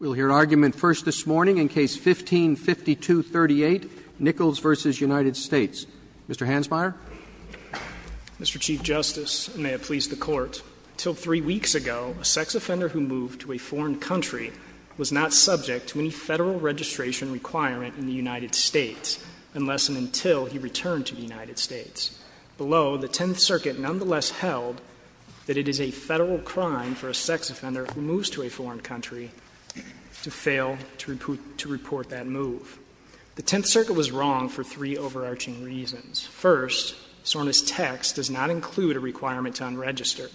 We'll hear argument first this morning in Case No. 15-5238, Nichols v. United States. Mr. Hansmeier. Mr. Chief Justice, and may it please the Court, until three weeks ago, a sex offender who moved to a foreign country was not subject to any Federal registration requirement in the United States, unless and until he returned to the United States. Below, the Tenth Circuit nonetheless held that it is a Federal crime for a sex offender who moves to a foreign country to fail to report that move. The Tenth Circuit was wrong for three overarching reasons. First, SORNA's text does not include a requirement to unregister.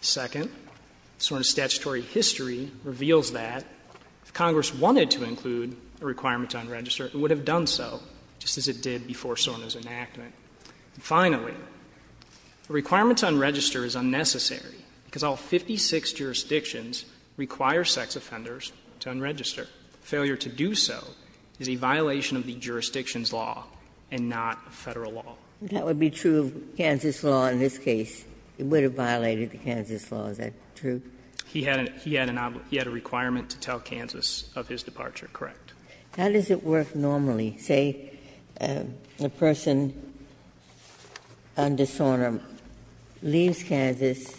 Second, SORNA's statutory history reveals that if Congress wanted to include a requirement to unregister, it would have done so, just as it did before SORNA's enactment. And finally, a requirement to unregister is unnecessary, because all 56 jurisdictions require sex offenders to unregister. Failure to do so is a violation of the jurisdiction's law and not a Federal law. Ginsburg. That would be true of Kansas law in this case. It would have violated the Kansas law, is that true? He had a requirement to tell Kansas of his departure, correct. How does it work normally? Say a person under SORNA leaves Kansas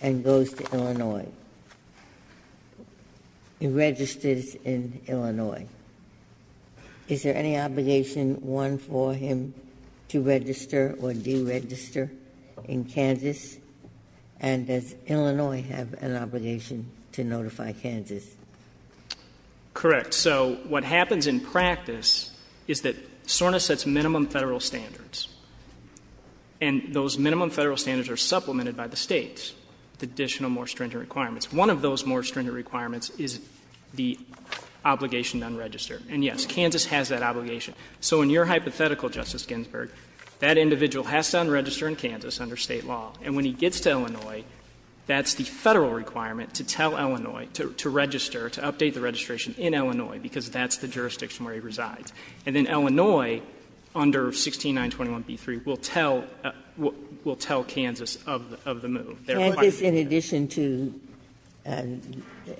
and goes to Illinois. He registers in Illinois. Is there any obligation, one, for him to register or deregister in Kansas? And does Illinois have an obligation to notify Kansas? Correct. So what happens in practice is that SORNA sets minimum Federal standards. And those minimum Federal standards are supplemented by the States with additional more stringent requirements. One of those more stringent requirements is the obligation to unregister. And, yes, Kansas has that obligation. So in your hypothetical, Justice Ginsburg, that individual has to unregister in Kansas under State law. And when he gets to Illinois, that's the Federal requirement to tell Illinois to register, to update the registration in Illinois, because that's the jurisdiction where he resides. And then Illinois, under 16921b3, will tell Kansas of the move. They're required to do that. Kansas in addition to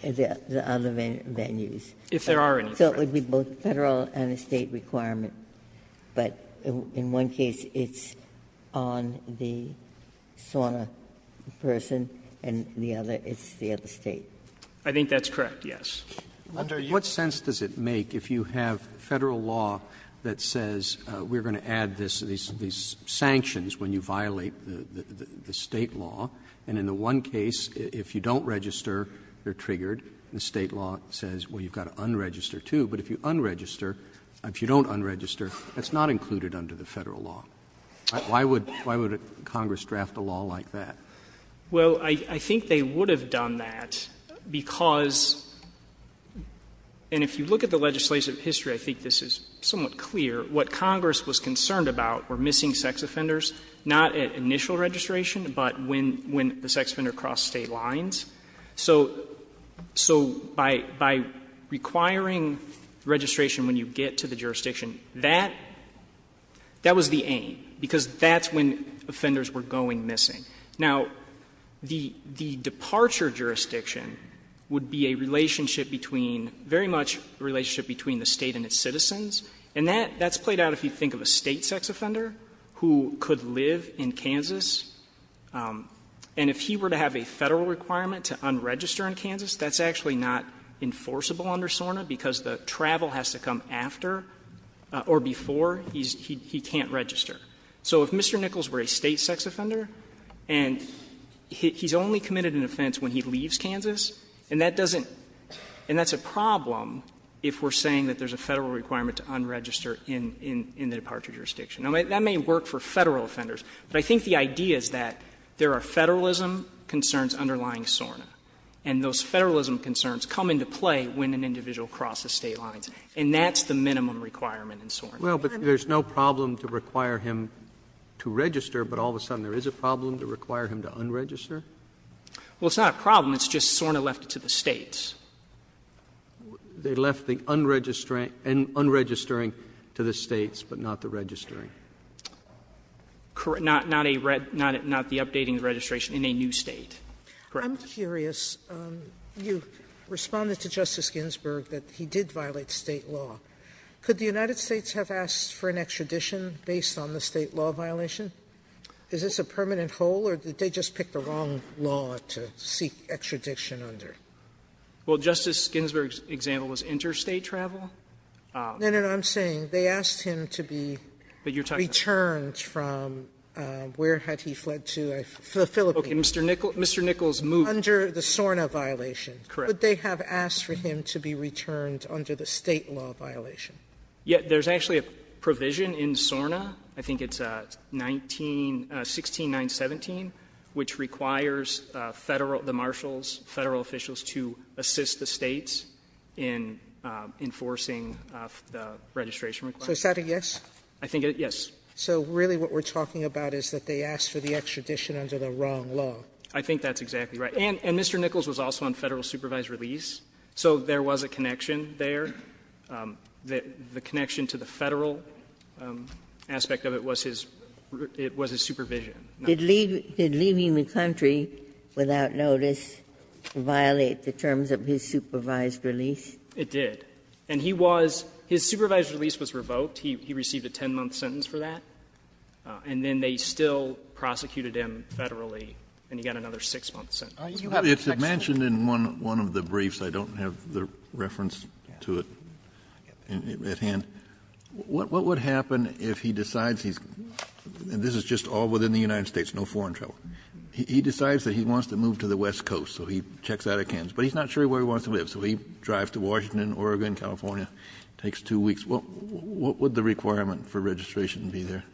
the other venues. If there are any. So it would be both Federal and a State requirement. But in one case it's on the SORNA person, and the other, it's the other State. I think that's correct, yes. Under U.S. Roberts, what sense does it make if you have Federal law that says we're going to add these sanctions when you violate the State law, and in the one case, if you don't register, you're triggered, and the State law says, well, you've got to unregister too. But if you unregister, if you don't unregister, that's not included under the Federal law. Why would Congress draft a law like that? Well, I think they would have done that because, and if you look at the legislative history, I think this is somewhat clear, what Congress was concerned about were missing sex offenders, not at initial registration, but when the sex offender crossed State lines. So by requiring registration when you get to the jurisdiction, that was the aim, because that's when offenders were going missing. Now, the departure jurisdiction would be a relationship between, very much a relationship between the State and its citizens. And that's played out if you think of a State sex offender who could live in Kansas. And if he were to have a Federal requirement to unregister in Kansas, that's actually not enforceable under SORNA because the travel has to come after or before he can't register. So if Mr. Nichols were a State sex offender and he's only committed an offense when he leaves Kansas, and that doesn't, and that's a problem if we're saying that there's a Federal requirement to unregister in the departure jurisdiction. Now, that may work for Federal offenders, but I think the idea is that there are Federalism concerns underlying SORNA, and those Federalism concerns come into play when an individual crosses State lines, and that's the minimum requirement in SORNA. Roberts Well, but there's no problem to require him to register, but all of a sudden there is a problem to require him to unregister? Well, it's not a problem. It's just SORNA left it to the States. They left the unregistering to the States, but not the registering. Correct. Not the updating the registration in a new State. Correct. Sotomayor I'm curious. You responded to Justice Ginsburg that he did violate State law. Could the United States have asked for an extradition based on the State law violation? Is this a permanent hole, or did they just pick the wrong law to seek extradition under? Well, Justice Ginsburg's example was interstate travel. No, no, no. I'm saying they asked him to be returned from where had he fled to, the Philippines. Okay. Mr. Nichols moved under the SORNA violation. Correct. How would they have asked for him to be returned under the State law violation? Yeah. There's actually a provision in SORNA, I think it's 19 16917, which requires the marshals, Federal officials to assist the States in enforcing the registration requirement. So is that a yes? I think it's a yes. So really what we're talking about is that they asked for the extradition under the wrong law. I think that's exactly right. And Mr. Nichols was also on Federal supervised release. So there was a connection there. The connection to the Federal aspect of it was his supervision. Did leaving the country without notice violate the terms of his supervised release? It did. And he was his supervised release was revoked. He received a 10-month sentence for that. And then they still prosecuted him Federally, and he got another 6-month sentence. It's mentioned in one of the briefs. I don't have the reference to it at hand. What would happen if he decides he's, and this is just all within the United States, no foreign travel. He decides that he wants to move to the West Coast, so he checks out of Kansas. But he's not sure where he wants to live. So he drives to Washington, Oregon, California, takes two weeks. What would the requirement for registration be there?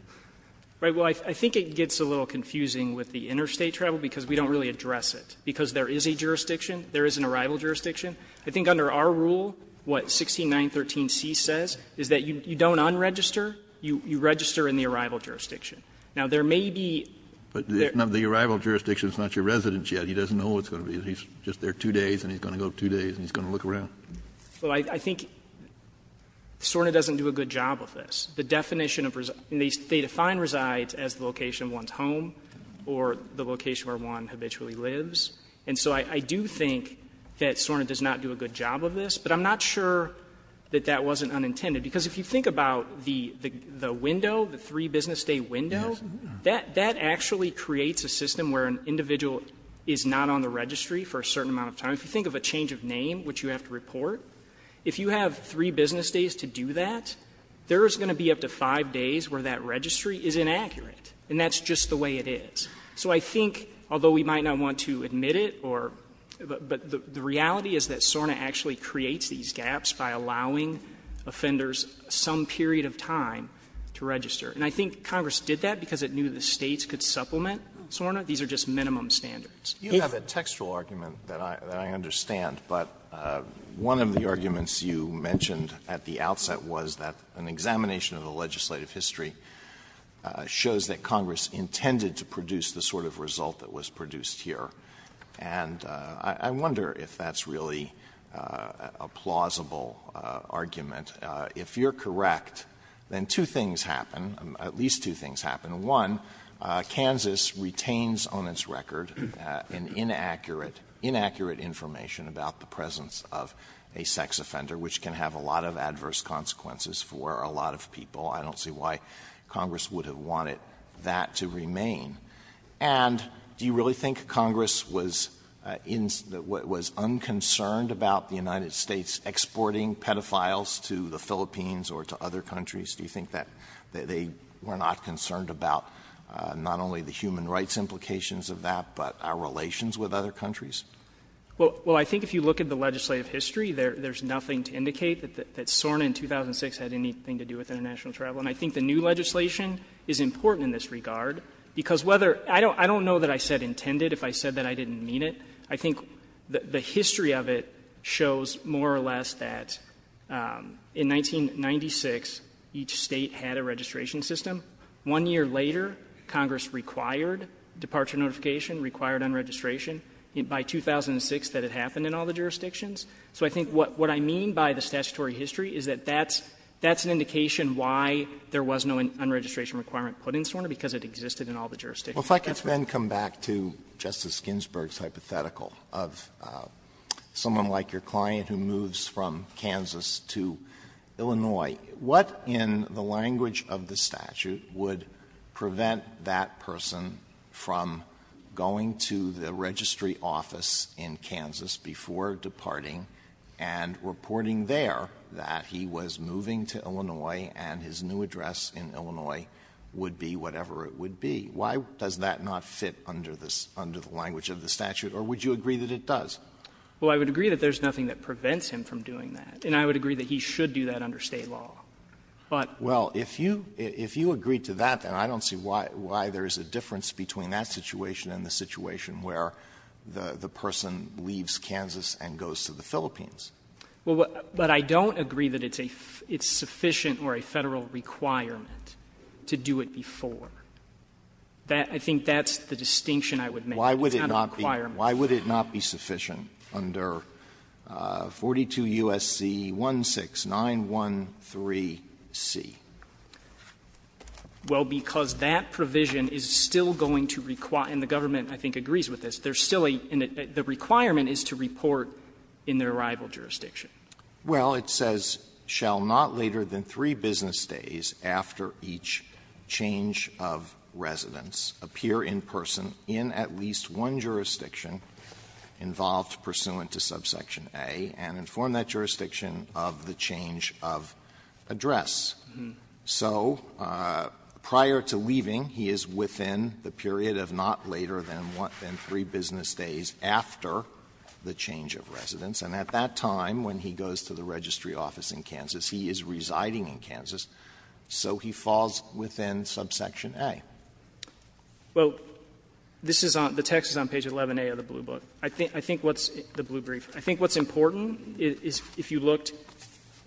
Right. Well, I think it gets a little confusing with the interstate travel because we don't really address it. Because there is a jurisdiction, there is an arrival jurisdiction. I think under our rule, what 16913c says is that you don't unregister, you register in the arrival jurisdiction. Now, there may be. But the arrival jurisdiction is not your residence yet. He doesn't know what it's going to be. He's just there two days, and he's going to go two days, and he's going to look around. Well, I think SORNA doesn't do a good job of this. The definition of residence, they define reside as the location of one's home or the And so I do think that SORNA does not do a good job of this. But I'm not sure that that wasn't unintended. Because if you think about the window, the three-business-day window, that actually creates a system where an individual is not on the registry for a certain amount of time. If you think of a change of name, which you have to report, if you have three business days to do that, there is going to be up to five days where that registry is inaccurate. And that's just the way it is. So I think, although we might not want to admit it, or the reality is that SORNA actually creates these gaps by allowing offenders some period of time to register. And I think Congress did that because it knew the States could supplement SORNA. These are just minimum standards. If you have a textual argument that I understand, but one of the arguments you mentioned at the outset was that an examination of the legislative history shows that Congress intended to produce the sort of result that was produced here. And I wonder if that's really a plausible argument. If you're correct, then two things happen, at least two things happen. One, Kansas retains on its record an inaccurate information about the presence of a sex offender, which can have a lot of adverse consequences for a lot of people. I don't see why Congress would have wanted that to remain. And do you really think Congress was unconcerned about the United States exporting pedophiles to the Philippines or to other countries? Do you think that they were not concerned about not only the human rights implications of that, but our relations with other countries? Well, I think if you look at the legislative history, there's nothing to indicate that SORNA in 2006 had anything to do with international travel. And I think the new legislation is important in this regard, because whether — I don't know that I said intended if I said that I didn't mean it. I think the history of it shows more or less that in 1996, each State had a registration system. One year later, Congress required departure notification, required unregistration. By 2006, that had happened in all the jurisdictions. So I think what I mean by the statutory history is that that's an indication why there was no unregistration requirement put in SORNA, because it existed Alitoso, if I could then come back to Justice Ginsburg's hypothetical of someone like your client who moves from Kansas to Illinois, what in the language of the statute would prevent that person from going to the registry office in Kansas before departing and reporting there that he was moving to Illinois and his new address in Illinois would be whatever it would be? Why does that not fit under the language of the statute? Or would you agree that it does? Well, I would agree that there's nothing that prevents him from doing that. And I would agree that he should do that under State law. But — Well, if you agree to that, then I don't see why there's a difference between that situation and the situation where the person leaves Kansas and goes to the Philippines. Well, what — but I don't agree that it's a — it's sufficient or a Federal requirement to do it before. That — I think that's the distinction I would make. It's not a requirement. Why would it not be sufficient under 42 U.S.C. 16913C? Well, because that provision is still going to require — and the government, I think, agrees with this — there's still a — the requirement is to report in the arrival jurisdiction. Well, it says, "...shall not later than three business days after each change of residence appear in person in at least one jurisdiction involved pursuant to subsection A and inform that jurisdiction of the change of address." So prior to leaving, he is within the period of not later than three business days after the change of residence. And at that time, when he goes to the registry office in Kansas, he is residing in Kansas, so he falls within subsection A. Well, this is on — the text is on page 11A of the Blue Book. I think what's — the Blue Brief. I think what's important is, if you looked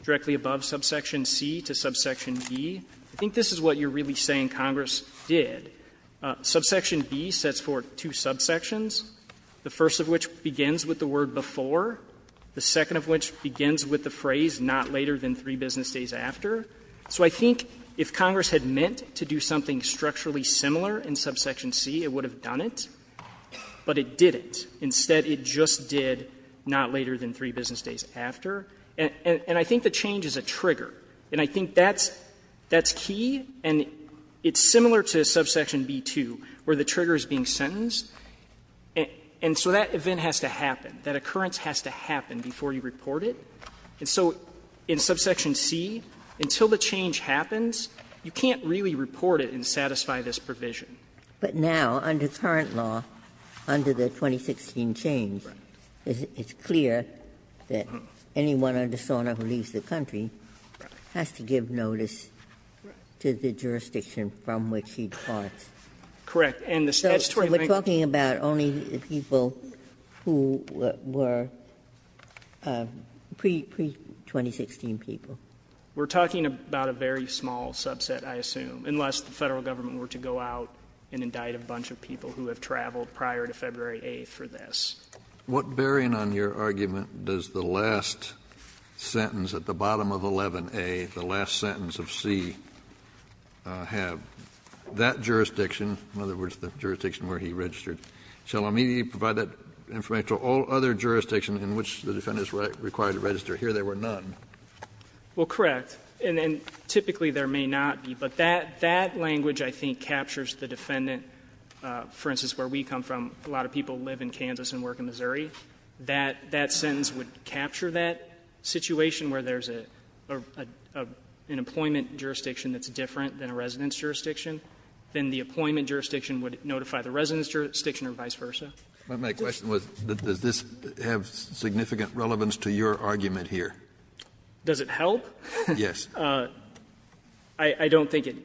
directly above subsection C to subsection B, I think this is what you're really saying Congress did. Subsection B sets forth two subsections, the first of which begins with the word before, the second of which begins with the phrase, not later than three business days after. So I think if Congress had meant to do something structurally similar in subsection C, it would have done it, but it didn't. Instead, it just did not later than three business days after. And I think the change is a trigger, and I think that's — that's key. And it's similar to subsection B-2, where the trigger is being sentenced. And so that event has to happen. That occurrence has to happen before you report it. And so in subsection C, until the change happens, you can't really report it and satisfy this provision. Ginsburg. But now, under current law, under the 2016 change, it's clear that anyone under SORNA who leaves the country has to give notice to the jurisdiction from which he departs. Correct. And the statutory thing — So we're talking about only the people who were pre-2016 people? We're talking about a very small subset, I assume, unless the Federal Government were to go out and indict a bunch of people who have traveled prior to February 8th for this. What bearing on your argument does the last sentence at the bottom of 11A, the last sentence of C, have? That jurisdiction, in other words, the jurisdiction where he registered, shall immediately provide that information to all other jurisdictions in which the defendant is required to register? Here there were none. Well, correct. And typically there may not be. But that language, I think, captures the defendant, for instance, where we come from. A lot of people live in Kansas and work in Missouri. That sentence would capture that situation where there's an employment jurisdiction that's different than a residence jurisdiction. Then the appointment jurisdiction would notify the residence jurisdiction or vice versa. But my question was, does this have significant relevance to your argument here? Does it help? Yes. I don't think it does.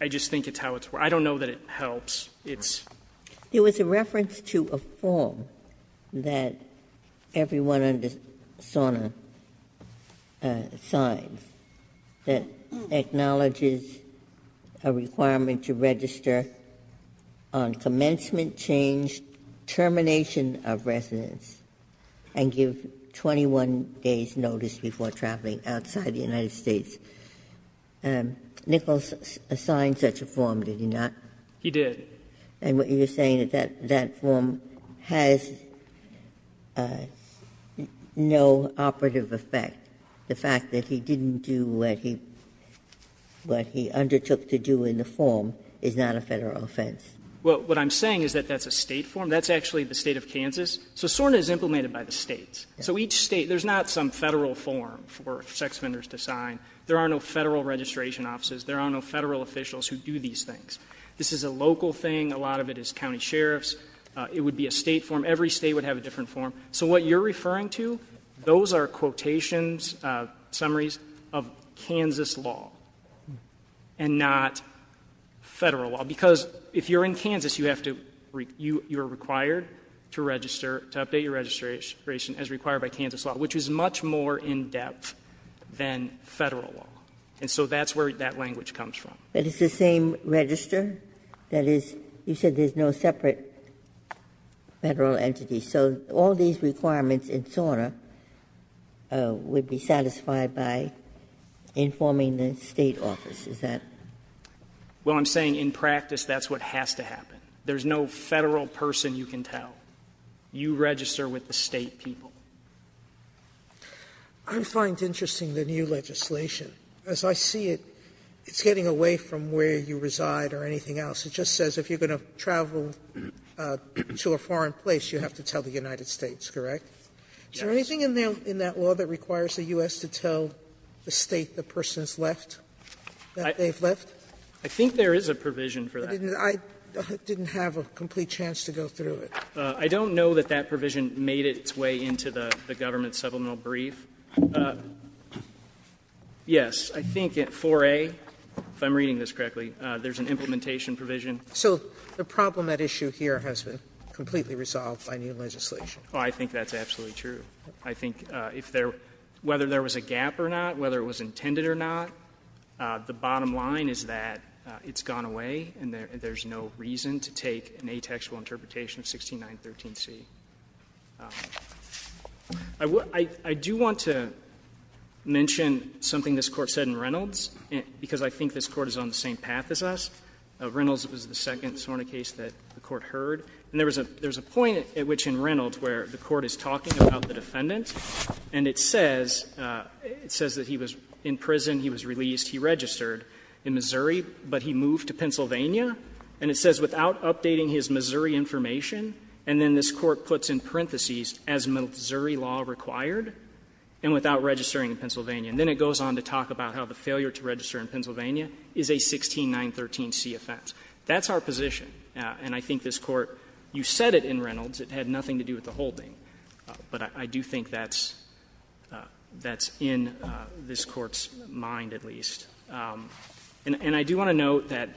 I just think it's how it's work. I don't know that it helps. It's. It was a reference to a form that everyone under SONA signs that acknowledges a requirement to register on commencement change, termination of residence, and give 21 days notice before traveling outside the United States. Nichols assigned such a form, did he not? He did. And what you're saying is that that form has no operative effect. The fact that he didn't do what he undertook to do in the form is not a Federal offense. Well, what I'm saying is that that's a State form. That's actually the State of Kansas. So SORNA is implemented by the States. So each State, there's not some Federal form for sex offenders to sign. There are no Federal registration offices. There are no Federal officials who do these things. This is a local thing. A lot of it is County Sheriff's. It would be a State form. Every State would have a different form. So what you're referring to, those are quotations, summaries of Kansas law and not Federal law. Because if you're in Kansas, you have to, you are required to register, to update your registration as required by Kansas law, which is much more in-depth than Federal law. And so that's where that language comes from. But it's the same register that is, you said there's no separate Federal entity. So all these requirements in SORNA would be satisfied by informing the State office, is that? Well, I'm saying in practice that's what has to happen. There's no Federal person you can tell. You register with the State people. Sotomayor, I find interesting the new legislation. As I see it, it's getting away from where you reside or anything else. It just says if you're going to travel to a foreign place, you have to tell the United States, correct? Is there anything in that law that requires the U.S. to tell the State the person has left, that they've left? I think there is a provision for that. I didn't have a complete chance to go through it. I don't know that that provision made its way into the government's supplemental brief. Yes. I think at 4A, if I'm reading this correctly, there's an implementation provision. So the problem at issue here has been completely resolved by new legislation. Oh, I think that's absolutely true. I think if there — whether there was a gap or not, whether it was intended or not, the bottom line is that it's gone away and there's no reason to take an atextual interpretation of 16913C. I do want to mention something this Court said in Reynolds, because I think this Court is on the same path as us. Reynolds was the second SORNA case that the Court heard. And there was a point at which in Reynolds where the Court is talking about the defendant, and it says that he was in prison, he was released, he registered in Missouri, but he moved to Pennsylvania. And it says, without updating his Missouri information, and then this Court puts in parentheses, as Missouri law required, and without registering in Pennsylvania. And then it goes on to talk about how the failure to register in Pennsylvania is a 16913C offense. That's our position. And I think this Court — you said it in Reynolds. It had nothing to do with the holding. But I do think that's — that's in this Court's mind, at least. And I do want to note that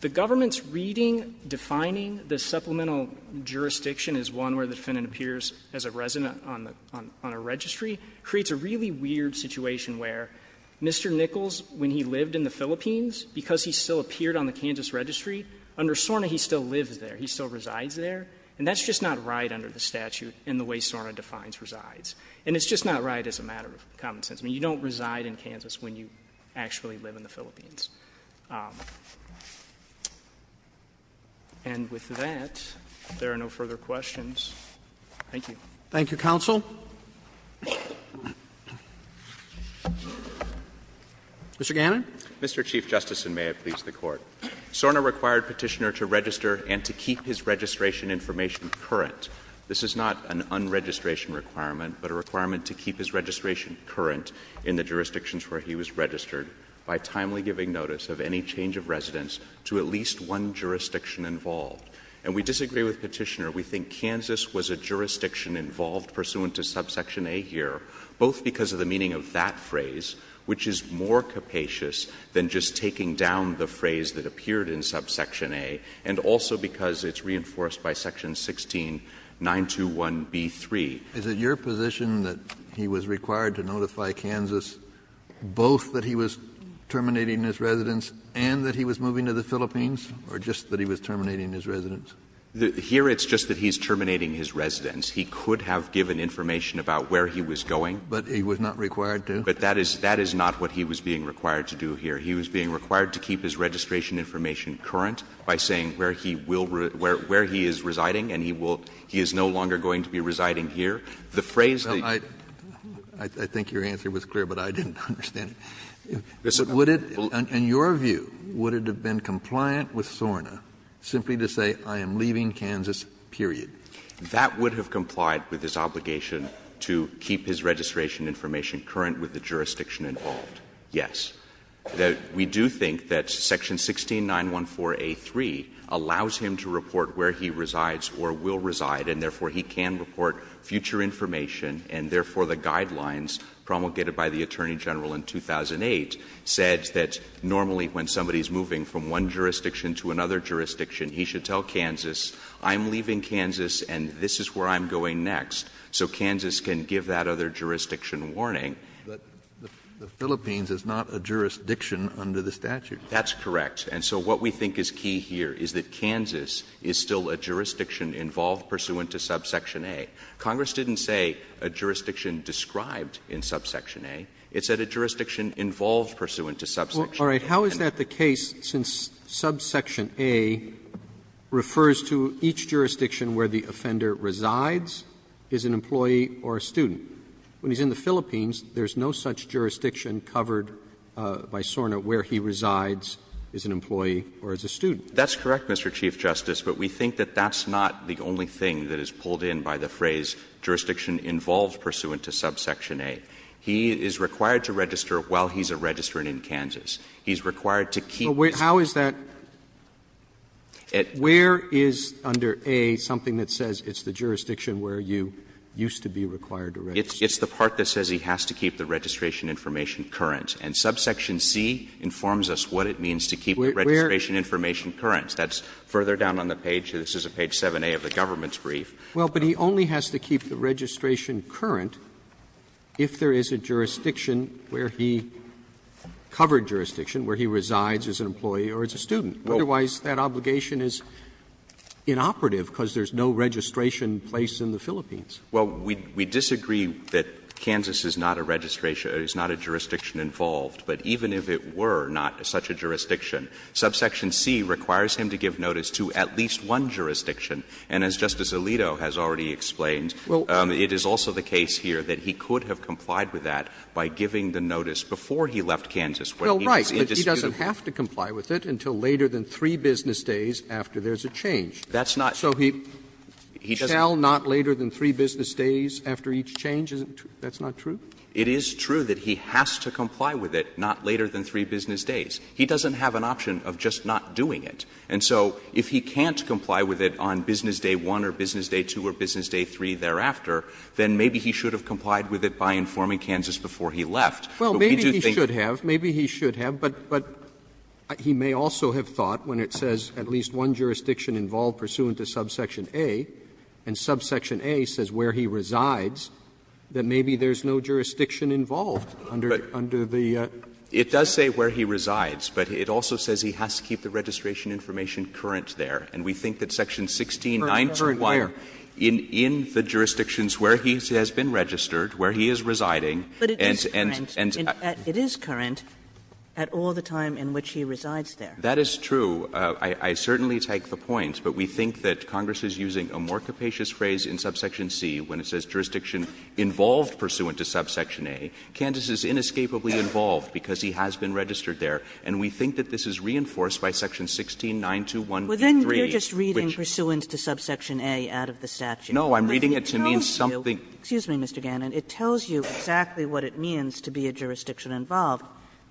the government's reading, defining the supplemental jurisdiction as one where the defendant appears as a resident on the — on a registry creates a really weird situation where Mr. Nichols, when he lived in the Philippines, because he still appeared on the Kansas registry, under SORNA he still lives there. He still resides there. And that's just not right under the statute in the way SORNA defines resides. And it's just not right as a matter of common sense. I mean, you don't reside in Kansas when you actually live in the Philippines. And with that, if there are no further questions, thank you. Roberts. Thank you, counsel. Mr. Gannon. Mr. Chief Justice, and may it please the Court. SORNA required Petitioner to register and to keep his registration information current. This is not an unregistration requirement, but a requirement to keep his registration current in the jurisdictions where he was registered by timely giving notice of any change of residence to at least one jurisdiction involved. And we disagree with Petitioner. We think Kansas was a jurisdiction involved pursuant to subsection A here, both because of the meaning of that phrase, which is more capacious than just taking down the phrase that appeared in subsection A, and also because it's reinforced by section 16, 921B3. Is it your position that he was required to notify Kansas both that he was terminating his residence and that he was moving to the Philippines, or just that he was terminating his residence? Here it's just that he's terminating his residence. He could have given information about where he was going. But he was not required to? But that is not what he was being required to do here. He was being required to keep his registration information current by saying where he will reside, where he is residing, and he will he is no longer going to be residing here. The phrase that you I think your answer was clear, but I didn't understand it. Would it, in your view, would it have been compliant with SORNA simply to say I am leaving Kansas, period? That would have complied with his obligation to keep his registration information current with the jurisdiction involved, yes. That we do think that section 16914A3 allows him to report where he resides or will reside, and therefore he can report future information, and therefore the guidelines promulgated by the Attorney General in 2008 said that normally when somebody is moving from one jurisdiction to another jurisdiction, he should tell Kansas, I'm leaving Kansas and this is where I'm going next, so Kansas can give that other jurisdiction warning. But the Philippines is not a jurisdiction under the statute. That's correct. And so what we think is key here is that Kansas is still a jurisdiction involved pursuant to subsection A. Congress didn't say a jurisdiction described in subsection A. It said a jurisdiction involved pursuant to subsection A. All right. How is that the case since subsection A refers to each jurisdiction where the offender resides, is an employee or a student? When he's in the Philippines, there's no such jurisdiction covered by SORNA where he resides, is an employee or is a student. That's correct, Mr. Chief Justice, but we think that that's not the only thing that is pulled in by the phrase jurisdiction involved pursuant to subsection A. He is required to register while he's a registrant in Kansas. He's required to keep. But how is that? Where is under A something that says it's the jurisdiction where you used to be required to register? It's the part that says he has to keep the registration information current. And subsection C informs us what it means to keep the registration information current. That's further down on the page. This is page 7A of the government's brief. Well, but he only has to keep the registration current if there is a jurisdiction where he covered jurisdiction, where he resides as an employee or as a student. place in the Philippines. Well, we disagree that Kansas is not a jurisdiction involved. But even if it were not such a jurisdiction, subsection C requires him to give notice to at least one jurisdiction. And as Justice Alito has already explained, it is also the case here that he could have complied with that by giving the notice before he left Kansas when he was in dispute. Well, right, but he doesn't have to comply with it until later than three business days after there is a change. That's not. So he shall not later than three business days after each change? That's not true? It is true that he has to comply with it not later than three business days. He doesn't have an option of just not doing it. And so if he can't comply with it on business day one or business day two or business day three thereafter, then maybe he should have complied with it by informing Kansas before he left. Well, maybe he should have. Maybe he should have. But he may also have thought when it says at least one jurisdiction involved pursuant to subsection A, and subsection A says where he resides, that maybe there is no jurisdiction involved under the statute. But it does say where he resides, but it also says he has to keep the registration information current there. And we think that section 169 requires in the jurisdictions where he has been registered, where he is residing, and, and, and. But it is current at all the time in which he resides there. That is true. I certainly take the point, but we think that Congress is using a more capacious phrase in subsection C when it says jurisdiction involved pursuant to subsection A. Kansas is inescapably involved because he has been registered there. And we think that this is reinforced by section 16921.3, which was in the statute. Kagan, you are just reading pursuant to subsection A out of the statute. No, I'm reading it to mean something. But it tells you excuse me, Mr. Gannon, it tells you exactly what it means to be a jurisdiction involved.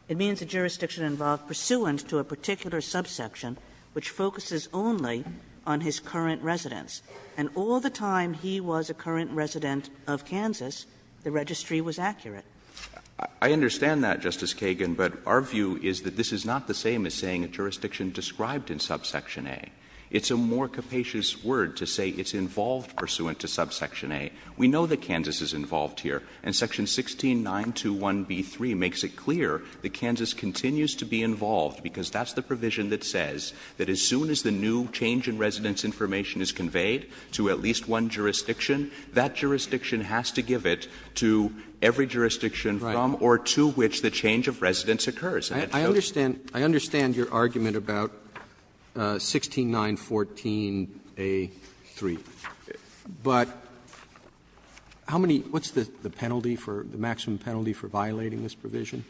It means a jurisdiction involved pursuant to a particular subsection which focuses only on his current residence. And all the time he was a current resident of Kansas, the registry was accurate. I understand that, Justice Kagan, but our view is that this is not the same as saying a jurisdiction described in subsection A. It's a more capacious word to say it's involved pursuant to subsection A. We know that Kansas is involved here. And section 16921b3 makes it clear that Kansas continues to be involved because that's the provision that says that as soon as the new change in residence information is conveyed to at least one jurisdiction, that jurisdiction has to give it to every jurisdiction from or to which the change of residence occurs. Roberts, I understand your argument about 16914a3, but how many — what's the past penalty for — the maximum penalty for violating this provision?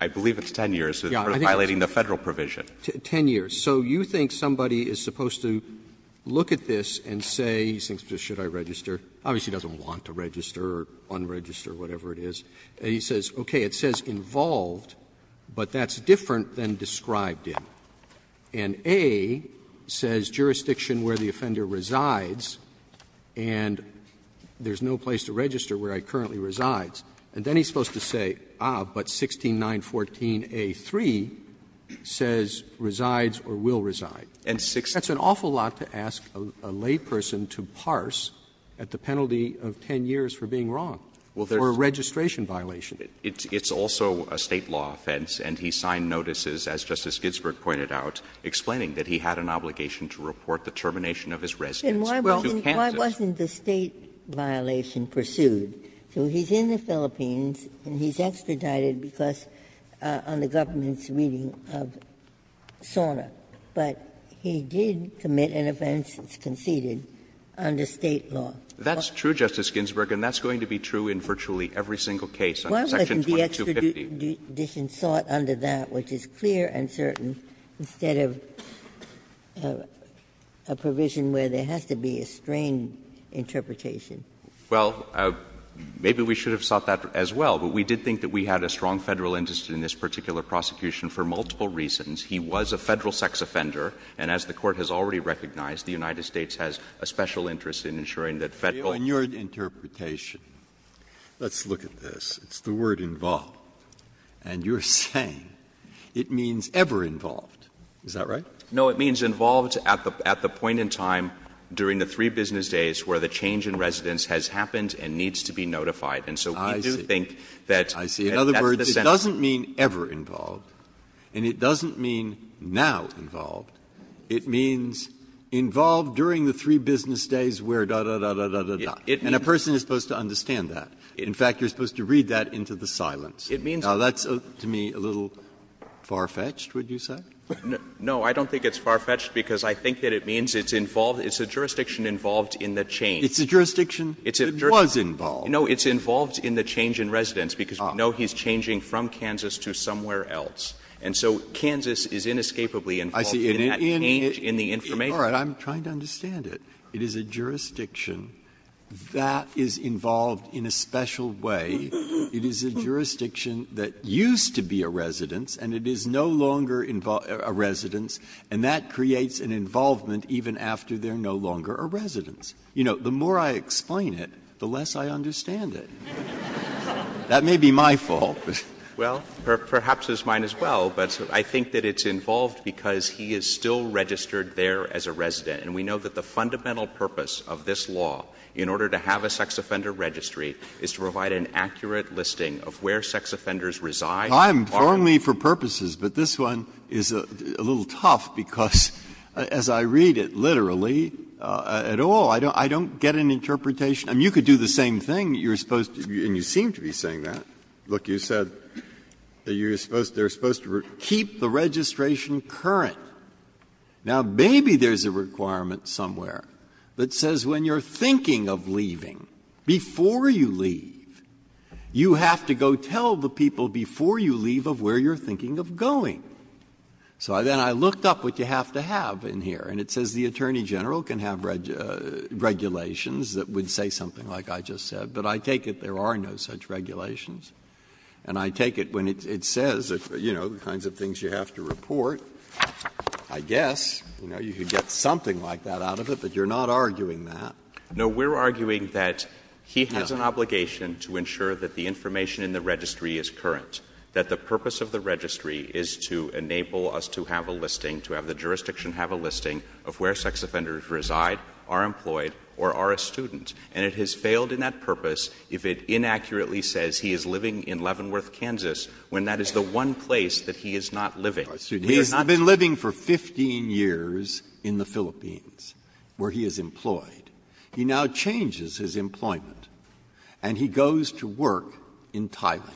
I believe it's 10 years for violating the Federal provision. Ten years. So you think somebody is supposed to look at this and say, he thinks, should I register? Obviously, he doesn't want to register or unregister, whatever it is. He says, okay, it says involved, but that's different than described in. And A says jurisdiction where the offender resides, and there's no place to register where he currently resides. And then he's supposed to say, ah, but 16914a3 says resides or will reside. And that's an awful lot to ask a layperson to parse at the penalty of 10 years for being wrong, for a registration violation. It's also a State law offense, and he signed notices, as Justice Ginsburg pointed out, explaining that he had an obligation to report the termination of his residence to Kansas. Ginsburg. Why wasn't the State violation pursued? So he's in the Philippines, and he's extradited because of the government's reading of SORNA. But he did commit an offense, it's conceded, under State law. That's true, Justice Ginsburg, and that's going to be true in virtually every single case under section 2250. Why wasn't the extradition sought under that, which is clear and certain, instead of a provision where there has to be a strained interpretation? Well, maybe we should have sought that as well, but we did think that we had a strong Federal interest in this particular prosecution for multiple reasons. He was a Federal sex offender, and as the Court has already recognized, the United States has a special interest in ensuring that Federal law. Breyer, in your interpretation, let's look at this. It's the word involved, and you're saying it means ever involved. Is that right? No, it means involved at the point in time during the three business days where the change in residence has happened and needs to be notified. And so we do think that that's the sentence. I see. In other words, it doesn't mean ever involved, and it doesn't mean now involved. It means involved during the three business days where da, da, da, da, da, da, da. And a person is supposed to understand that. In fact, you're supposed to read that into the silence. It means that. Now, that's, to me, a little far-fetched, would you say? No, I don't think it's far-fetched, because I think that it means it's involved as a jurisdiction involved in the change. It's a jurisdiction that was involved. No, it's involved in the change in residence, because we know he's changing from Kansas to somewhere else. And so Kansas is inescapably involved in that change in the information. All right. I'm trying to understand it. It is a jurisdiction that is involved in a special way. It is a jurisdiction that used to be a residence, and it is no longer a residence, and that creates an involvement even after they're no longer a residence. You know, the more I explain it, the less I understand it. That may be my fault. Well, perhaps it's mine as well, but I think that it's involved because he is still registered there as a resident. And we know that the fundamental purpose of this law in order to have a sex offender registry is to provide an accurate listing of where sex offenders reside. Breyer. I'm only for purposes, but this one is a little tough, because as I read it, literally, at all, I don't get an interpretation. I mean, you could do the same thing. You're supposed to be, and you seem to be saying that. Look, you said that you're supposed to, they're supposed to keep the registration current. Now, maybe there's a requirement somewhere that says when you're thinking of leaving, before you leave, you have to go tell the people before you leave of where you're thinking of going. So then I looked up what you have to have in here, and it says the Attorney General can have regulations that would say something like I just said, but I take it there are no such regulations. And I take it when it says, you know, the kinds of things you have to report, I guess, you know, you could get something like that out of it, but you're not arguing that. No, we're arguing that he has an obligation to ensure that the information in the registry is current, that the purpose of the registry is to enable us to have a listing, to have the jurisdiction have a listing of where sex offenders reside, are employed, or are a student. And it has failed in that purpose if it inaccurately says he is living in Leavenworth, Kansas, when that is the one place that he is not living. Breyer. He has been living for 15 years in the Philippines, where he is employed. He now changes his employment, and he goes to work in Thailand.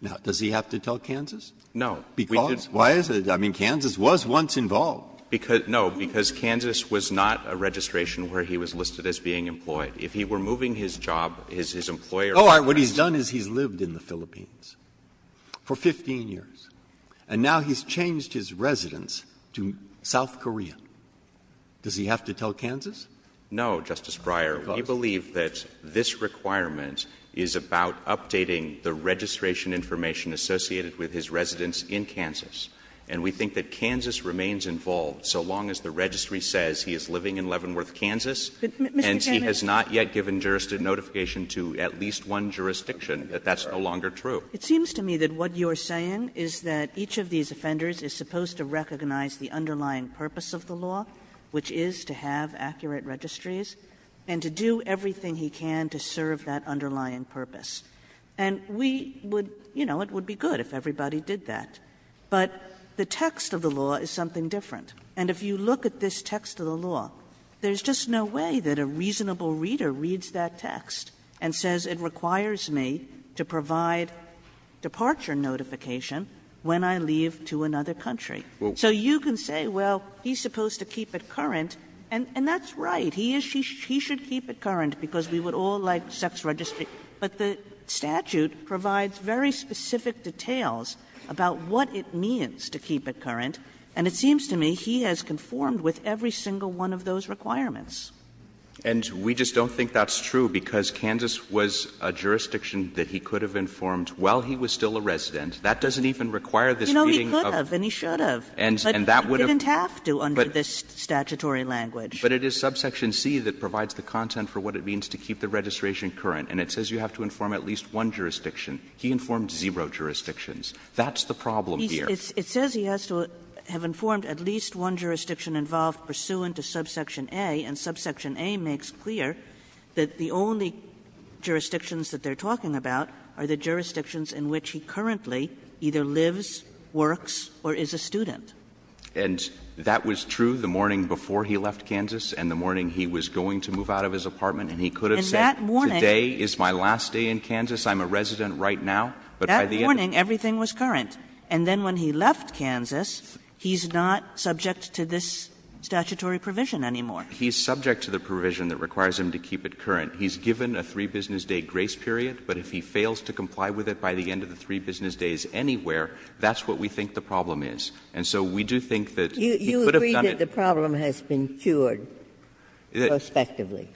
Now, does he have to tell Kansas? No. Because? Why is it? I mean, Kansas was once involved. No, because Kansas was not a registration where he was listed as being employed. If he were moving his job, his employer would ask him. Oh, all right. What he's done is he's lived in the Philippines for 15 years. And now he's changed his residence to South Korea. Does he have to tell Kansas? No, Justice Breyer. Because? We believe that this requirement is about updating the registration information associated with his residence in Kansas. And we think that Kansas remains involved so long as the registry says he is living in Leavenworth, Kansas, and he has not yet given jurisdiction notification to at least one jurisdiction, that that's no longer true. It seems to me that what you are saying is that each of these offenders is supposed to recognize the underlying purpose of the law, which is to have accurate registries, and to do everything he can to serve that underlying purpose. And we would — you know, it would be good if everybody did that. But the text of the law is something different. And if you look at this text of the law, there's just no way that a reasonable reader reads that text and says it requires me to provide departure notification when I leave to another country. So you can say, well, he's supposed to keep it current, and that's right. He is — he should keep it current because we would all like sex registry. But the statute provides very specific details about what it means to keep it current, and it seems to me he has conformed with every single one of those requirements. And we just don't think that's true because Kansas was a jurisdiction that he could have informed while he was still a resident. That doesn't even require this reading of the statute. Kagan You know, he could have, and he should have, but he didn't have to under this statutory language. But it is subsection C that provides the content for what it means to keep the registration current, and it says you have to inform at least one jurisdiction. He informed zero jurisdictions. That's the problem here. It says he has to have informed at least one jurisdiction involved pursuant to subsection A, and subsection A makes clear that the only jurisdictions that they're talking about are the jurisdictions in which he currently either lives, works, or is a student. And that was true the morning before he left Kansas and the morning he was going to move out of his apartment, and he could have said today is my last day in Kansas, I'm a resident right now. But by the end of the day, everything was current. And then when he left Kansas, he's not subject to this statutory provision anymore. He's subject to the provision that requires him to keep it current. He's given a three-business-day grace period, but if he fails to comply with it by the end of the three-business-days anywhere, that's what we think the problem And so we do think that he could have done it. Ginsburg You agree that the problem has been cured, prospectively.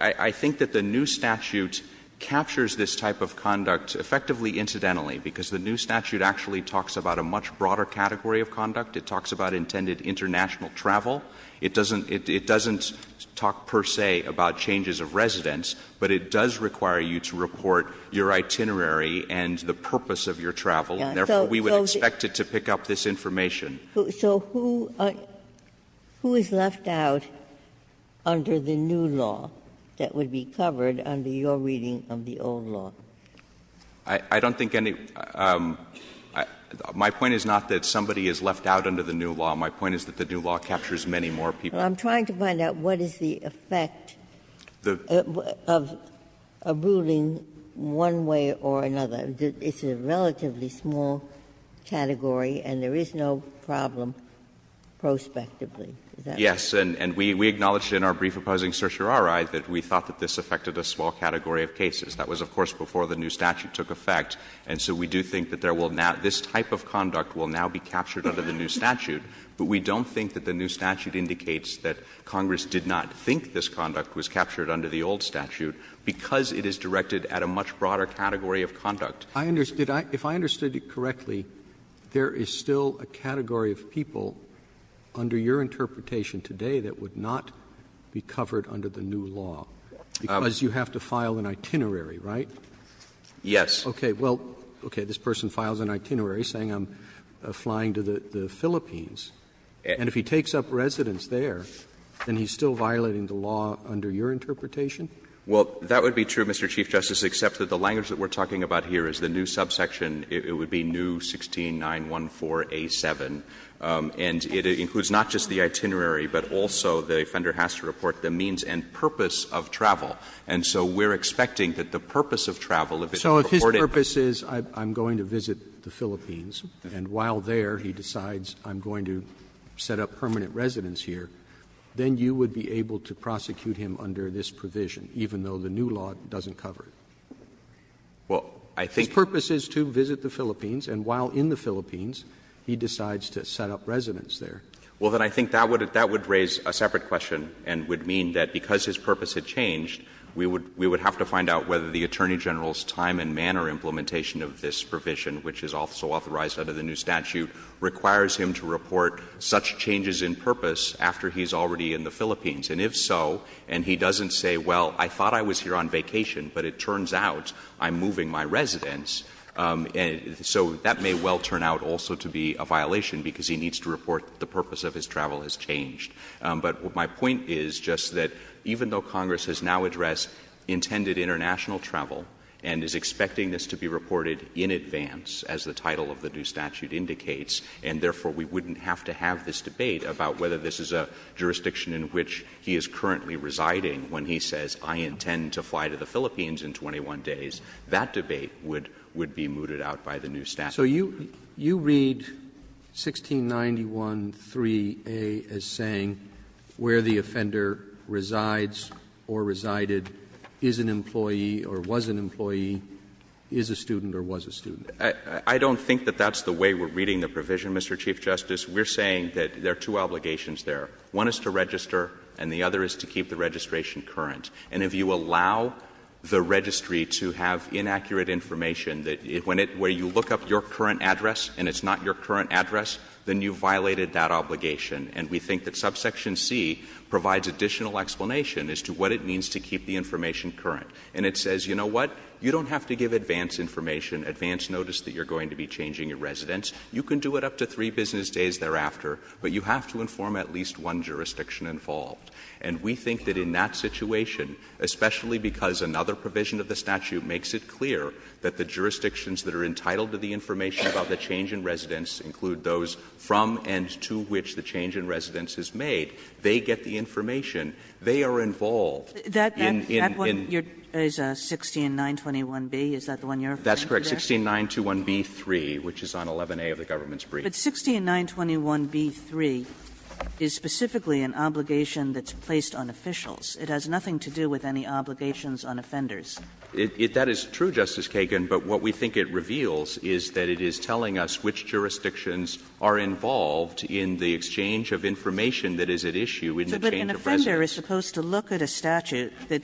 I think that the new statute captures this type of conduct effectively incidentally, because the new statute actually talks about a much broader category of conduct. It talks about intended international travel. It doesn't talk per se about changes of residence, but it does require you to report your itinerary and the purpose of your travel, and therefore we would expect it to pick up this information. Ginsburg So who is left out under the new law that would be covered under your reading of the old law? I don't think any – my point is not that somebody is left out under the new law. My point is that the new law captures many more people. Ginsburg I'm trying to find out what is the effect of a ruling one way or another. It's a relatively small category and there is no problem prospectively. Is that right? Yes. And we acknowledged in our brief opposing certiorari that we thought that this affected a small category of cases. That was, of course, before the new statute took effect. And so we do think that there will now – this type of conduct will now be captured under the new statute. But we don't think that the new statute indicates that Congress did not think this conduct was captured under the old statute, because it is directed at a much broader category of conduct. Roberts I understood – if I understood it correctly, there is still a category of people under your interpretation today that would not be covered under the new law, because you have to file an itinerary, right? Yes. Okay. Well, okay. This person files an itinerary saying I'm flying to the Philippines. And if he takes up residence there, then he's still violating the law under your interpretation? Well, that would be true, Mr. Chief Justice, except that the language that we are talking about here is the new subsection, it would be new 16914A7. And it includes not just the itinerary, but also the offender has to report the means and purpose of travel. And so we are expecting that the purpose of travel, if it is purported to be the same as the purpose of travel. So if his purpose is I'm going to visit the Philippines, and while there he decides I'm going to set up permanent residence here, then you would be able to prosecute him under this provision, even though the new law doesn't cover it? Well, I think the purpose is to visit the Philippines, and while in the Philippines, he decides to set up residence there. Well, then I think that would raise a separate question and would mean that because his purpose had changed, we would have to find out whether the Attorney General's time and manner implementation of this provision, which is also authorized under the new statute, requires him to report such changes in purpose after he is already in the Philippines. And if so, and he doesn't say, well, I thought I was here on vacation, but it turns out I'm moving my residence, so that may well turn out also to be a violation because he needs to report the purpose of his travel has changed. But my point is just that even though Congress has now addressed intended international travel and is expecting this to be reported in advance, as the title of the new statute indicates, and therefore we wouldn't have to have this debate about whether this is a jurisdiction in which he is currently residing when he says, I intend to fly to the Philippines in 21 days, that debate would be mooted out by the new statute. So you read 1691.3a as saying where the offender resides or resided, is an employee or was an employee, is a student or was a student. I don't think that that's the way we're reading the provision, Mr. Chief Justice. We're saying that there are two obligations there. One is to register and the other is to keep the registration current. And if you allow the registry to have inaccurate information, that when it, where you look up your current address and it's not your current address, then you violated that obligation. And we think that subsection C provides additional explanation as to what it means to keep the information current. And it says, you know what? You don't have to give advance information, advance notice that you're going to be changing your residence. You can do it up to three business days thereafter, but you have to inform at least one jurisdiction involved. And we think that in that situation, especially because another provision of the statute makes it clear that the jurisdictions that are entitled to the information about the change in residence include those from and to which the change in residence is made. They get the information. They are involved in, in, in. Kagan. That one, it's 16921B, is that the one you're referring to there? That's correct, 16921B3 which is on 11A of the government's brief. But 16921B3 is specifically an obligation that's placed on officials. It has nothing to do with any obligations on offenders. That is true, Justice Kagan, but what we think it reveals is that it is telling us which jurisdictions are involved in the exchange of information that is at issue in the change of residence. But an offender is supposed to look at a statute that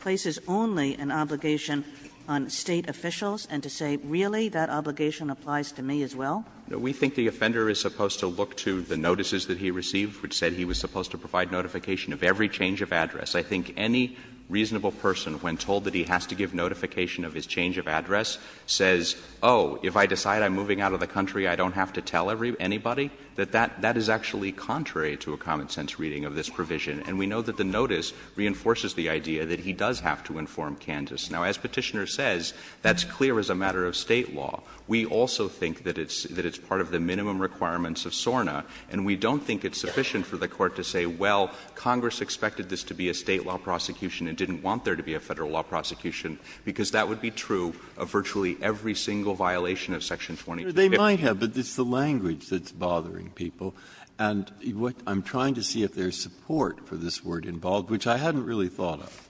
places only an obligation on State officials and to say, really, that obligation applies to me as well? We think the offender is supposed to look to the notices that he received which said he was supposed to provide notification of every change of address. I think any reasonable person, when told that he has to give notification of his change of address, says, oh, if I decide I'm moving out of the country, I don't have to tell everybody, anybody, that that, that is actually contrary to a common sense reading of this provision. And we know that the notice reinforces the idea that he does have to inform Kandis. Now, as Petitioner says, that's clear as a matter of State law. We also think that it's, that it's part of the minimum requirements of SORNA. And we don't think it's sufficient for the Court to say, well, Congress expected this to be a State law prosecution and didn't want there to be a Federal law prosecution, because that would be true of virtually every single violation of section 23. Breyer, they might have, but it's the language that's bothering people. And what I'm trying to see if there's support for this word involved, which I hadn't really thought of.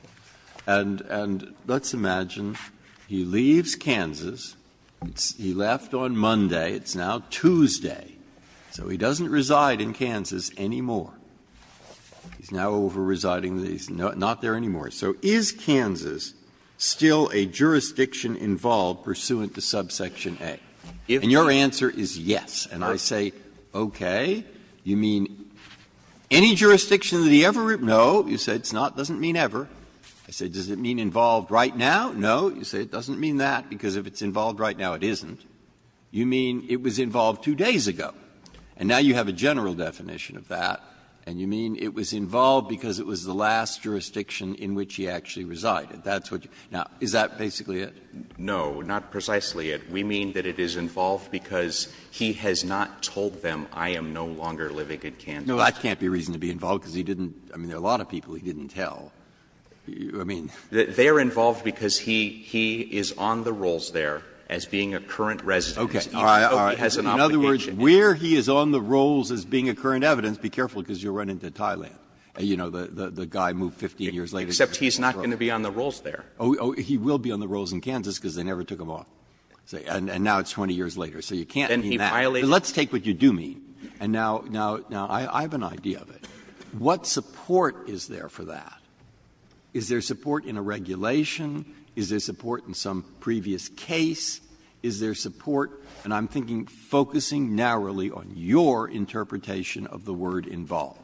And, and let's imagine he leaves Kansas, he left on Monday, it's now Tuesday. So he doesn't reside in Kansas anymore. He's now over residing, he's not there anymore. So is Kansas still a jurisdiction involved pursuant to subsection A? And your answer is yes. And I say, okay, you mean any jurisdiction that he ever, no, you say it's not, doesn't mean ever. I say, does it mean involved right now? No, you say it doesn't mean that, because if it's involved right now, it isn't. You mean it was involved two days ago. And now you have a general definition of that, and you mean it was involved because it was the last jurisdiction in which he actually resided. That's what you do. Now, is that basically it? No, not precisely it. We mean that it is involved because he has not told them, I am no longer living in Kansas. No, that can't be reason to be involved, because he didn't, I mean, there are a lot of people he didn't tell. I mean. They are involved because he, he is on the rolls there as being a current resident. Okay. All right. All right. In other words, where he is on the rolls as being a current evidence, be careful, because you will run into Thailand, you know, the guy moved 15 years later. Except he is not going to be on the rolls there. Oh, he will be on the rolls in Kansas, because they never took him off. And now it's 20 years later. So you can't mean that. Then he violated. Let's take what you do mean. And now, now, now, I have an idea of it. What support is there for that? Is there support in a regulation? Is there support in some previous case? Is there support? And I'm thinking, focusing narrowly on your interpretation of the word involved.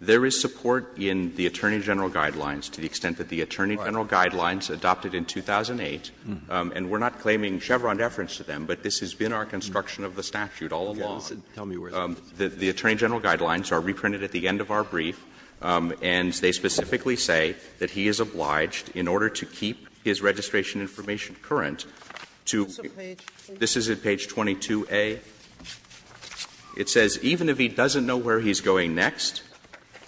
There is support in the Attorney General Guidelines to the extent that the Attorney General Guidelines adopted in 2008, and we are not claiming Chevron deference to them, but this has been our construction of the statute all along. The Attorney General Guidelines are reprinted at the end of our brief, and they specifically say that he is obliged, in order to keep his registration information current, to be. Sotomayor, please. This is at page 22A. It says, ''Even if he doesn't know where he is going next,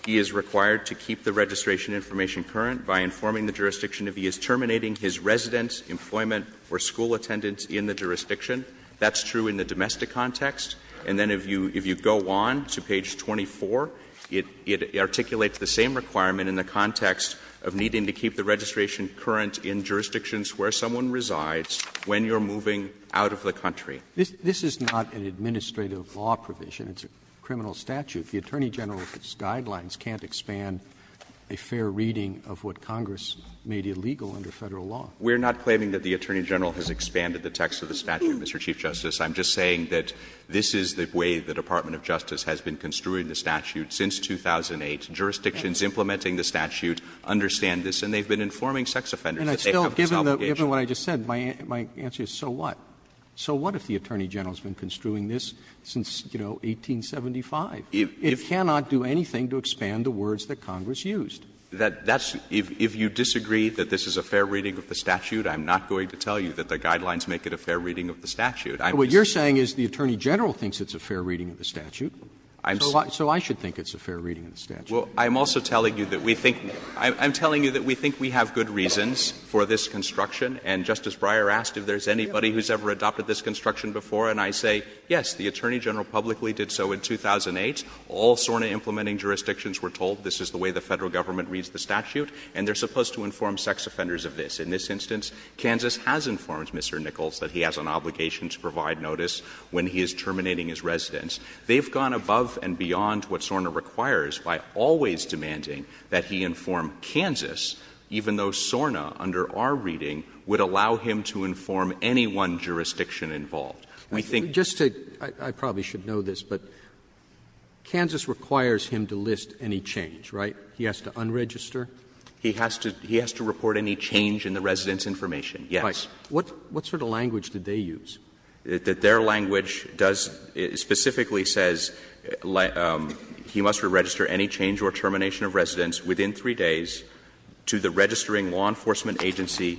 he is required to keep the registration information current by informing the jurisdiction if he is terminating his residence, employment or school attendance in the jurisdiction.'' That's true in the domestic context. And then if you go on to page 24, it articulates the same requirement in the context of needing to keep the registration current in jurisdictions where someone resides when you're moving out of the country. This is not an administrative law provision. It's a criminal statute. The Attorney General's Guidelines can't expand a fair reading of what Congress made illegal under Federal law. We're not claiming that the Attorney General has expanded the text of the statute, Mr. Chief Justice. I'm just saying that this is the way the Department of Justice has been construing the statute since 2008. Jurisdictions implementing the statute understand this, and they've been informing sex offenders that they have this obligation. Roberts Given what I just said, my answer is so what? So what if the Attorney General has been construing this since, you know, 1875? It cannot do anything to expand the words that Congress used. That's – if you disagree that this is a fair reading of the statute, I'm not going to tell you that the Guidelines make it a fair reading of the statute. What you're saying is the Attorney General thinks it's a fair reading of the statute. So I should think it's a fair reading of the statute. Well, I'm also telling you that we think – I'm telling you that we think we have good reasons for this construction, and Justice Breyer asked if there's anybody who's ever adopted this construction before, and I say, yes, the Attorney General publicly did so in 2008. All SORNA implementing jurisdictions were told this is the way the Federal Government reads the statute, and they're supposed to inform sex offenders of this. In this instance, Kansas has informed Mr. Nichols that he has an obligation to provide notice when he is terminating his residence. They've gone above and beyond what SORNA requires by always demanding that he inform Kansas, even though SORNA, under our reading, would allow him to inform any one jurisdiction involved. We think – Just to – I probably should know this, but Kansas requires him to list any change, right? He has to unregister? He has to report any change in the residence information, yes. Right. What sort of language did they use? That their language does – specifically says he must register any change or termination of residence within three days to the registering law enforcement agency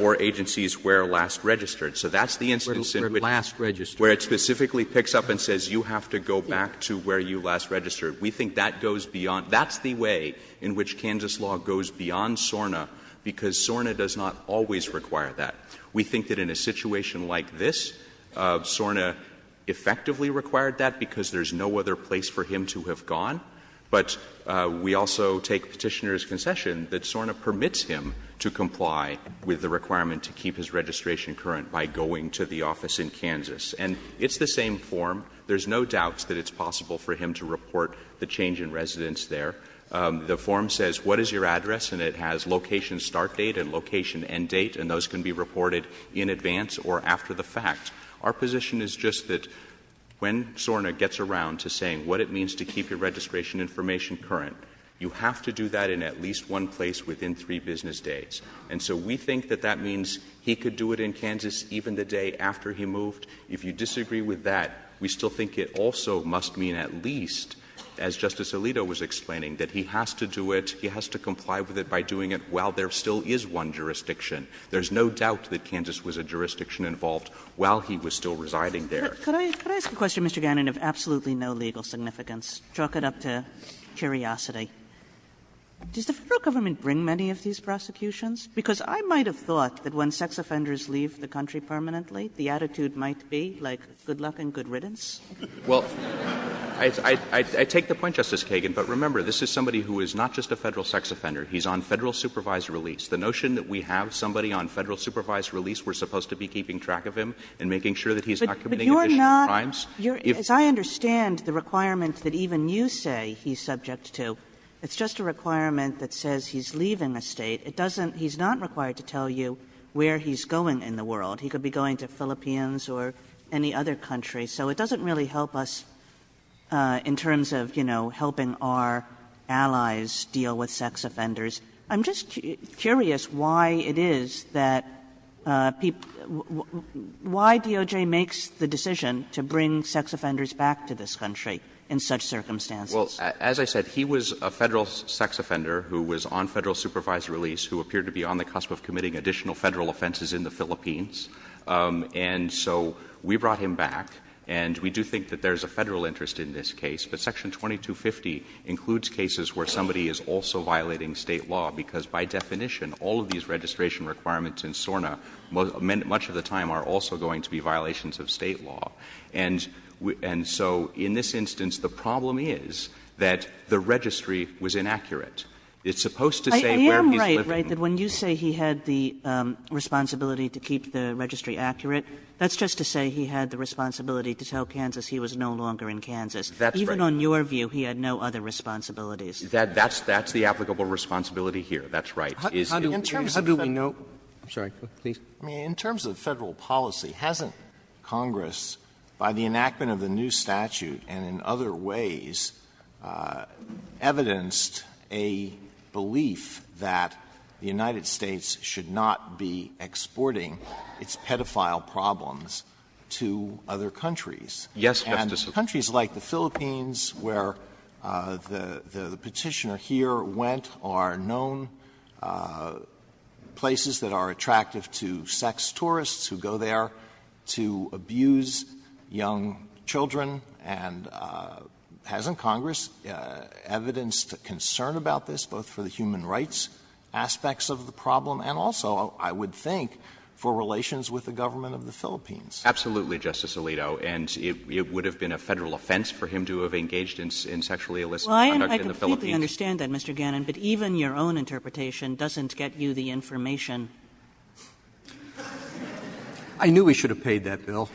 or agencies where last registered. So that's the instance in which – Where last registered. Where it specifically picks up and says you have to go back to where you last registered. We think that goes beyond – that's the way in which Kansas law goes beyond SORNA, because SORNA does not always require that. We think that in a situation like this, SORNA effectively required that because there's no other place for him to have gone. But we also take Petitioner's concession that SORNA permits him to comply with the requirement to keep his registration current by going to the office in Kansas. And it's the same form. There's no doubts that it's possible for him to report the change in residence there. The form says what is your address, and it has location start date and location end date, and those can be reported in advance or after the fact. Our position is just that when SORNA gets around to saying what it means to keep your registration information current, you have to do that in at least one place within three business days. And so we think that that means he could do it in Kansas even the day after he moved. If you disagree with that, we still think it also must mean at least, as Justice Alito was explaining, that he has to do it, he has to comply with it by doing it while there still is one jurisdiction. There's no doubt that Kansas was a jurisdiction involved while he was still residing there. Could I ask a question, Mr. Gannon, of absolutely no legal significance? Let's chalk it up to curiosity. Does the Federal government bring many of these prosecutions? Because I might have thought that when sex offenders leave the country permanently, the attitude might be like good luck and good riddance. Well, I take the point, Justice Kagan, but remember, this is somebody who is not just a Federal sex offender. He's on Federal supervised release. The notion that we have somebody on Federal supervised release, we're supposed to be keeping track of him and making sure that he's not committing additional crimes. And I'm just curious, as I understand the requirement that even you say he's subject to, it's just a requirement that says he's leaving the State. It doesn't — he's not required to tell you where he's going in the world. He could be going to the Philippines or any other country. So it doesn't really help us in terms of, you know, helping our allies deal with sex offenders. I'm just curious why it is that people — why DOJ makes the decision to bring sex offenders back to this country in such circumstances? Well, as I said, he was a Federal sex offender who was on Federal supervised release who appeared to be on the cusp of committing additional Federal offenses in the Philippines. And so we brought him back, and we do think that there's a Federal interest in this case, but Section 2250 includes cases where somebody is also violating State law, because by definition, all of these registration requirements in SORNA much of the time are also going to be violations of State law. And so in this instance, the problem is that the registry was inaccurate. It's supposed to say where he's living. I am right, right, that when you say he had the responsibility to keep the registry accurate, that's just to say he had the responsibility to tell Kansas he was no longer in Kansas. That's right. Even on your view, he had no other responsibilities. That's the applicable responsibility here. That's right. In terms of Federal — How do we know — I'm sorry. Please. I mean, in terms of Federal policy, hasn't Congress, by the enactment of the new statute and in other ways, evidenced a belief that the United States should not be exporting its pedophile problems to other countries? Yes, Justice Alito. And countries like the Philippines, where the Petitioner here went, are known places that are attractive to sex tourists who go there to abuse young children, and hasn't Congress evidenced concern about this, both for the human rights aspects of the problem and also, I would think, for relations with the government of the Philippines? Absolutely, Justice Alito. And it would have been a Federal offense for him to have engaged in sexually illicit conduct in the Philippines. Well, I completely understand that, Mr. Gannon, but even your own interpretation doesn't get you the information. I knew we should have paid that bill.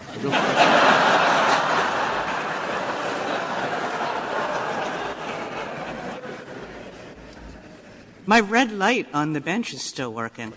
My red light on the bench is still working.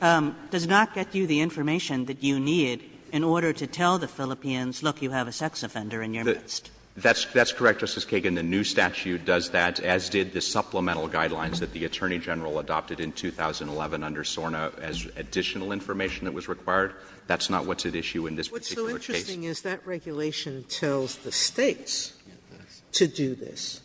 It does not get you the information that you need in order to tell the Philippines, look, you have a sex offender in your midst. That's correct, Justice Kagan. And the new statute does that, as did the supplemental guidelines that the Attorney General adopted in 2011 under SORNA as additional information that was required. That's not what's at issue in this particular case. What's so interesting is that regulation tells the States to do this.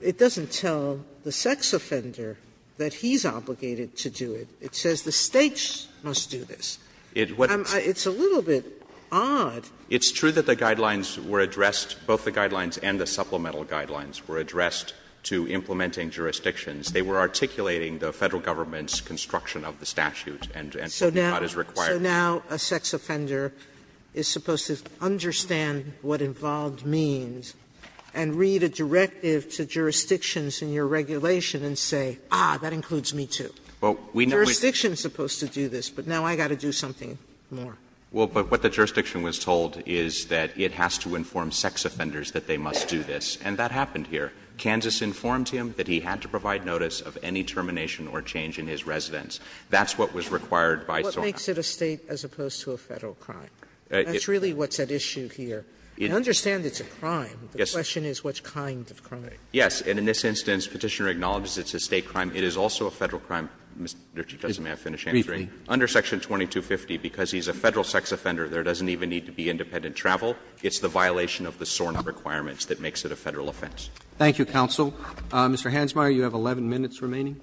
It doesn't tell the sex offender that he's obligated to do it. It says the States must do this. It's a little bit odd. It's true that the guidelines were addressed, both the guidelines and the supplemental guidelines were addressed to implementing jurisdictions. They were articulating the Federal government's construction of the statute and what we thought is required. So now a sex offender is supposed to understand what involved means and read a directive to jurisdictions in your regulation and say, ah, that includes me, too. Well, we know we're supposed to do this, but now I've got to do something more. Well, but what the jurisdiction was told is that it has to inform sex offenders that they must do this, and that happened here. Kansas informed him that he had to provide notice of any termination or change in his residence. That's what was required by SORNA. Sotomayor, what makes it a State as opposed to a Federal crime? That's really what's at issue here. I understand it's a crime. The question is what kind of crime. Yes. And in this instance, Petitioner acknowledges it's a State crime. It is also a Federal crime, Mr. Chief Justice, may I finish answering? Under Section 2250, because he's a Federal sex offender, there doesn't even need to be independent travel. It's the violation of the SORNA requirements that makes it a Federal offense. Thank you, counsel. Mr. Hansmeier, you have 11 minutes remaining.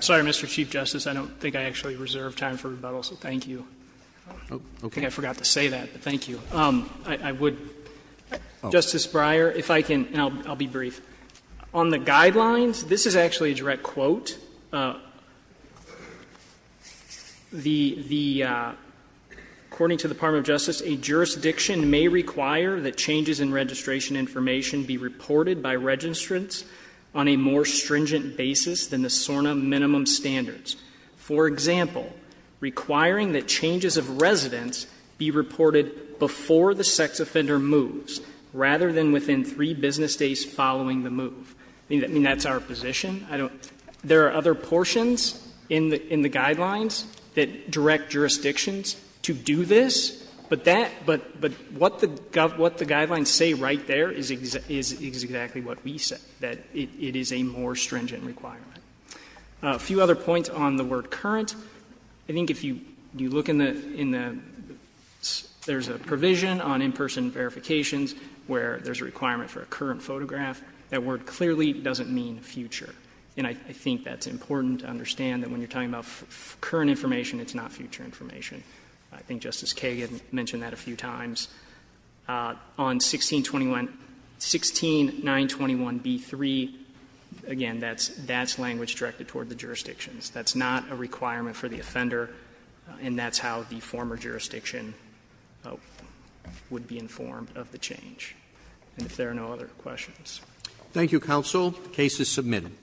Sorry, Mr. Chief Justice, I don't think I actually reserve time for rebuttal, so thank you. I forgot to say that, but thank you. I would – Justice Breyer, if I can, and I'll be brief. On the guidelines, this is actually a direct quote. The – according to the Department of Justice, a jurisdiction may require that changes in registration information be reported by registrants on a more stringent basis than the SORNA minimum standards. For example, requiring that changes of residence be reported before the sex offender moves rather than within three business days following the move. I mean, that's our position. I don't – there are other portions in the guidelines that direct jurisdictions to do this, but that – but what the guidelines say right there is exactly what we say, that it is a more stringent requirement. A few other points on the word current. I think if you look in the – in the – there's a provision on in-person verifications where there's a requirement for a current photograph. That word clearly doesn't mean future, and I think that's important to understand that when you're talking about current information, it's not future information. I think Justice Kagan mentioned that a few times. On 1621 – 16921b3, again, that's language directed toward the jurisdictions. That's not a requirement for the offender, and that's how the former jurisdiction would be informed of the change. And if there are no other questions. Roberts. Thank you, counsel. The case is submitted.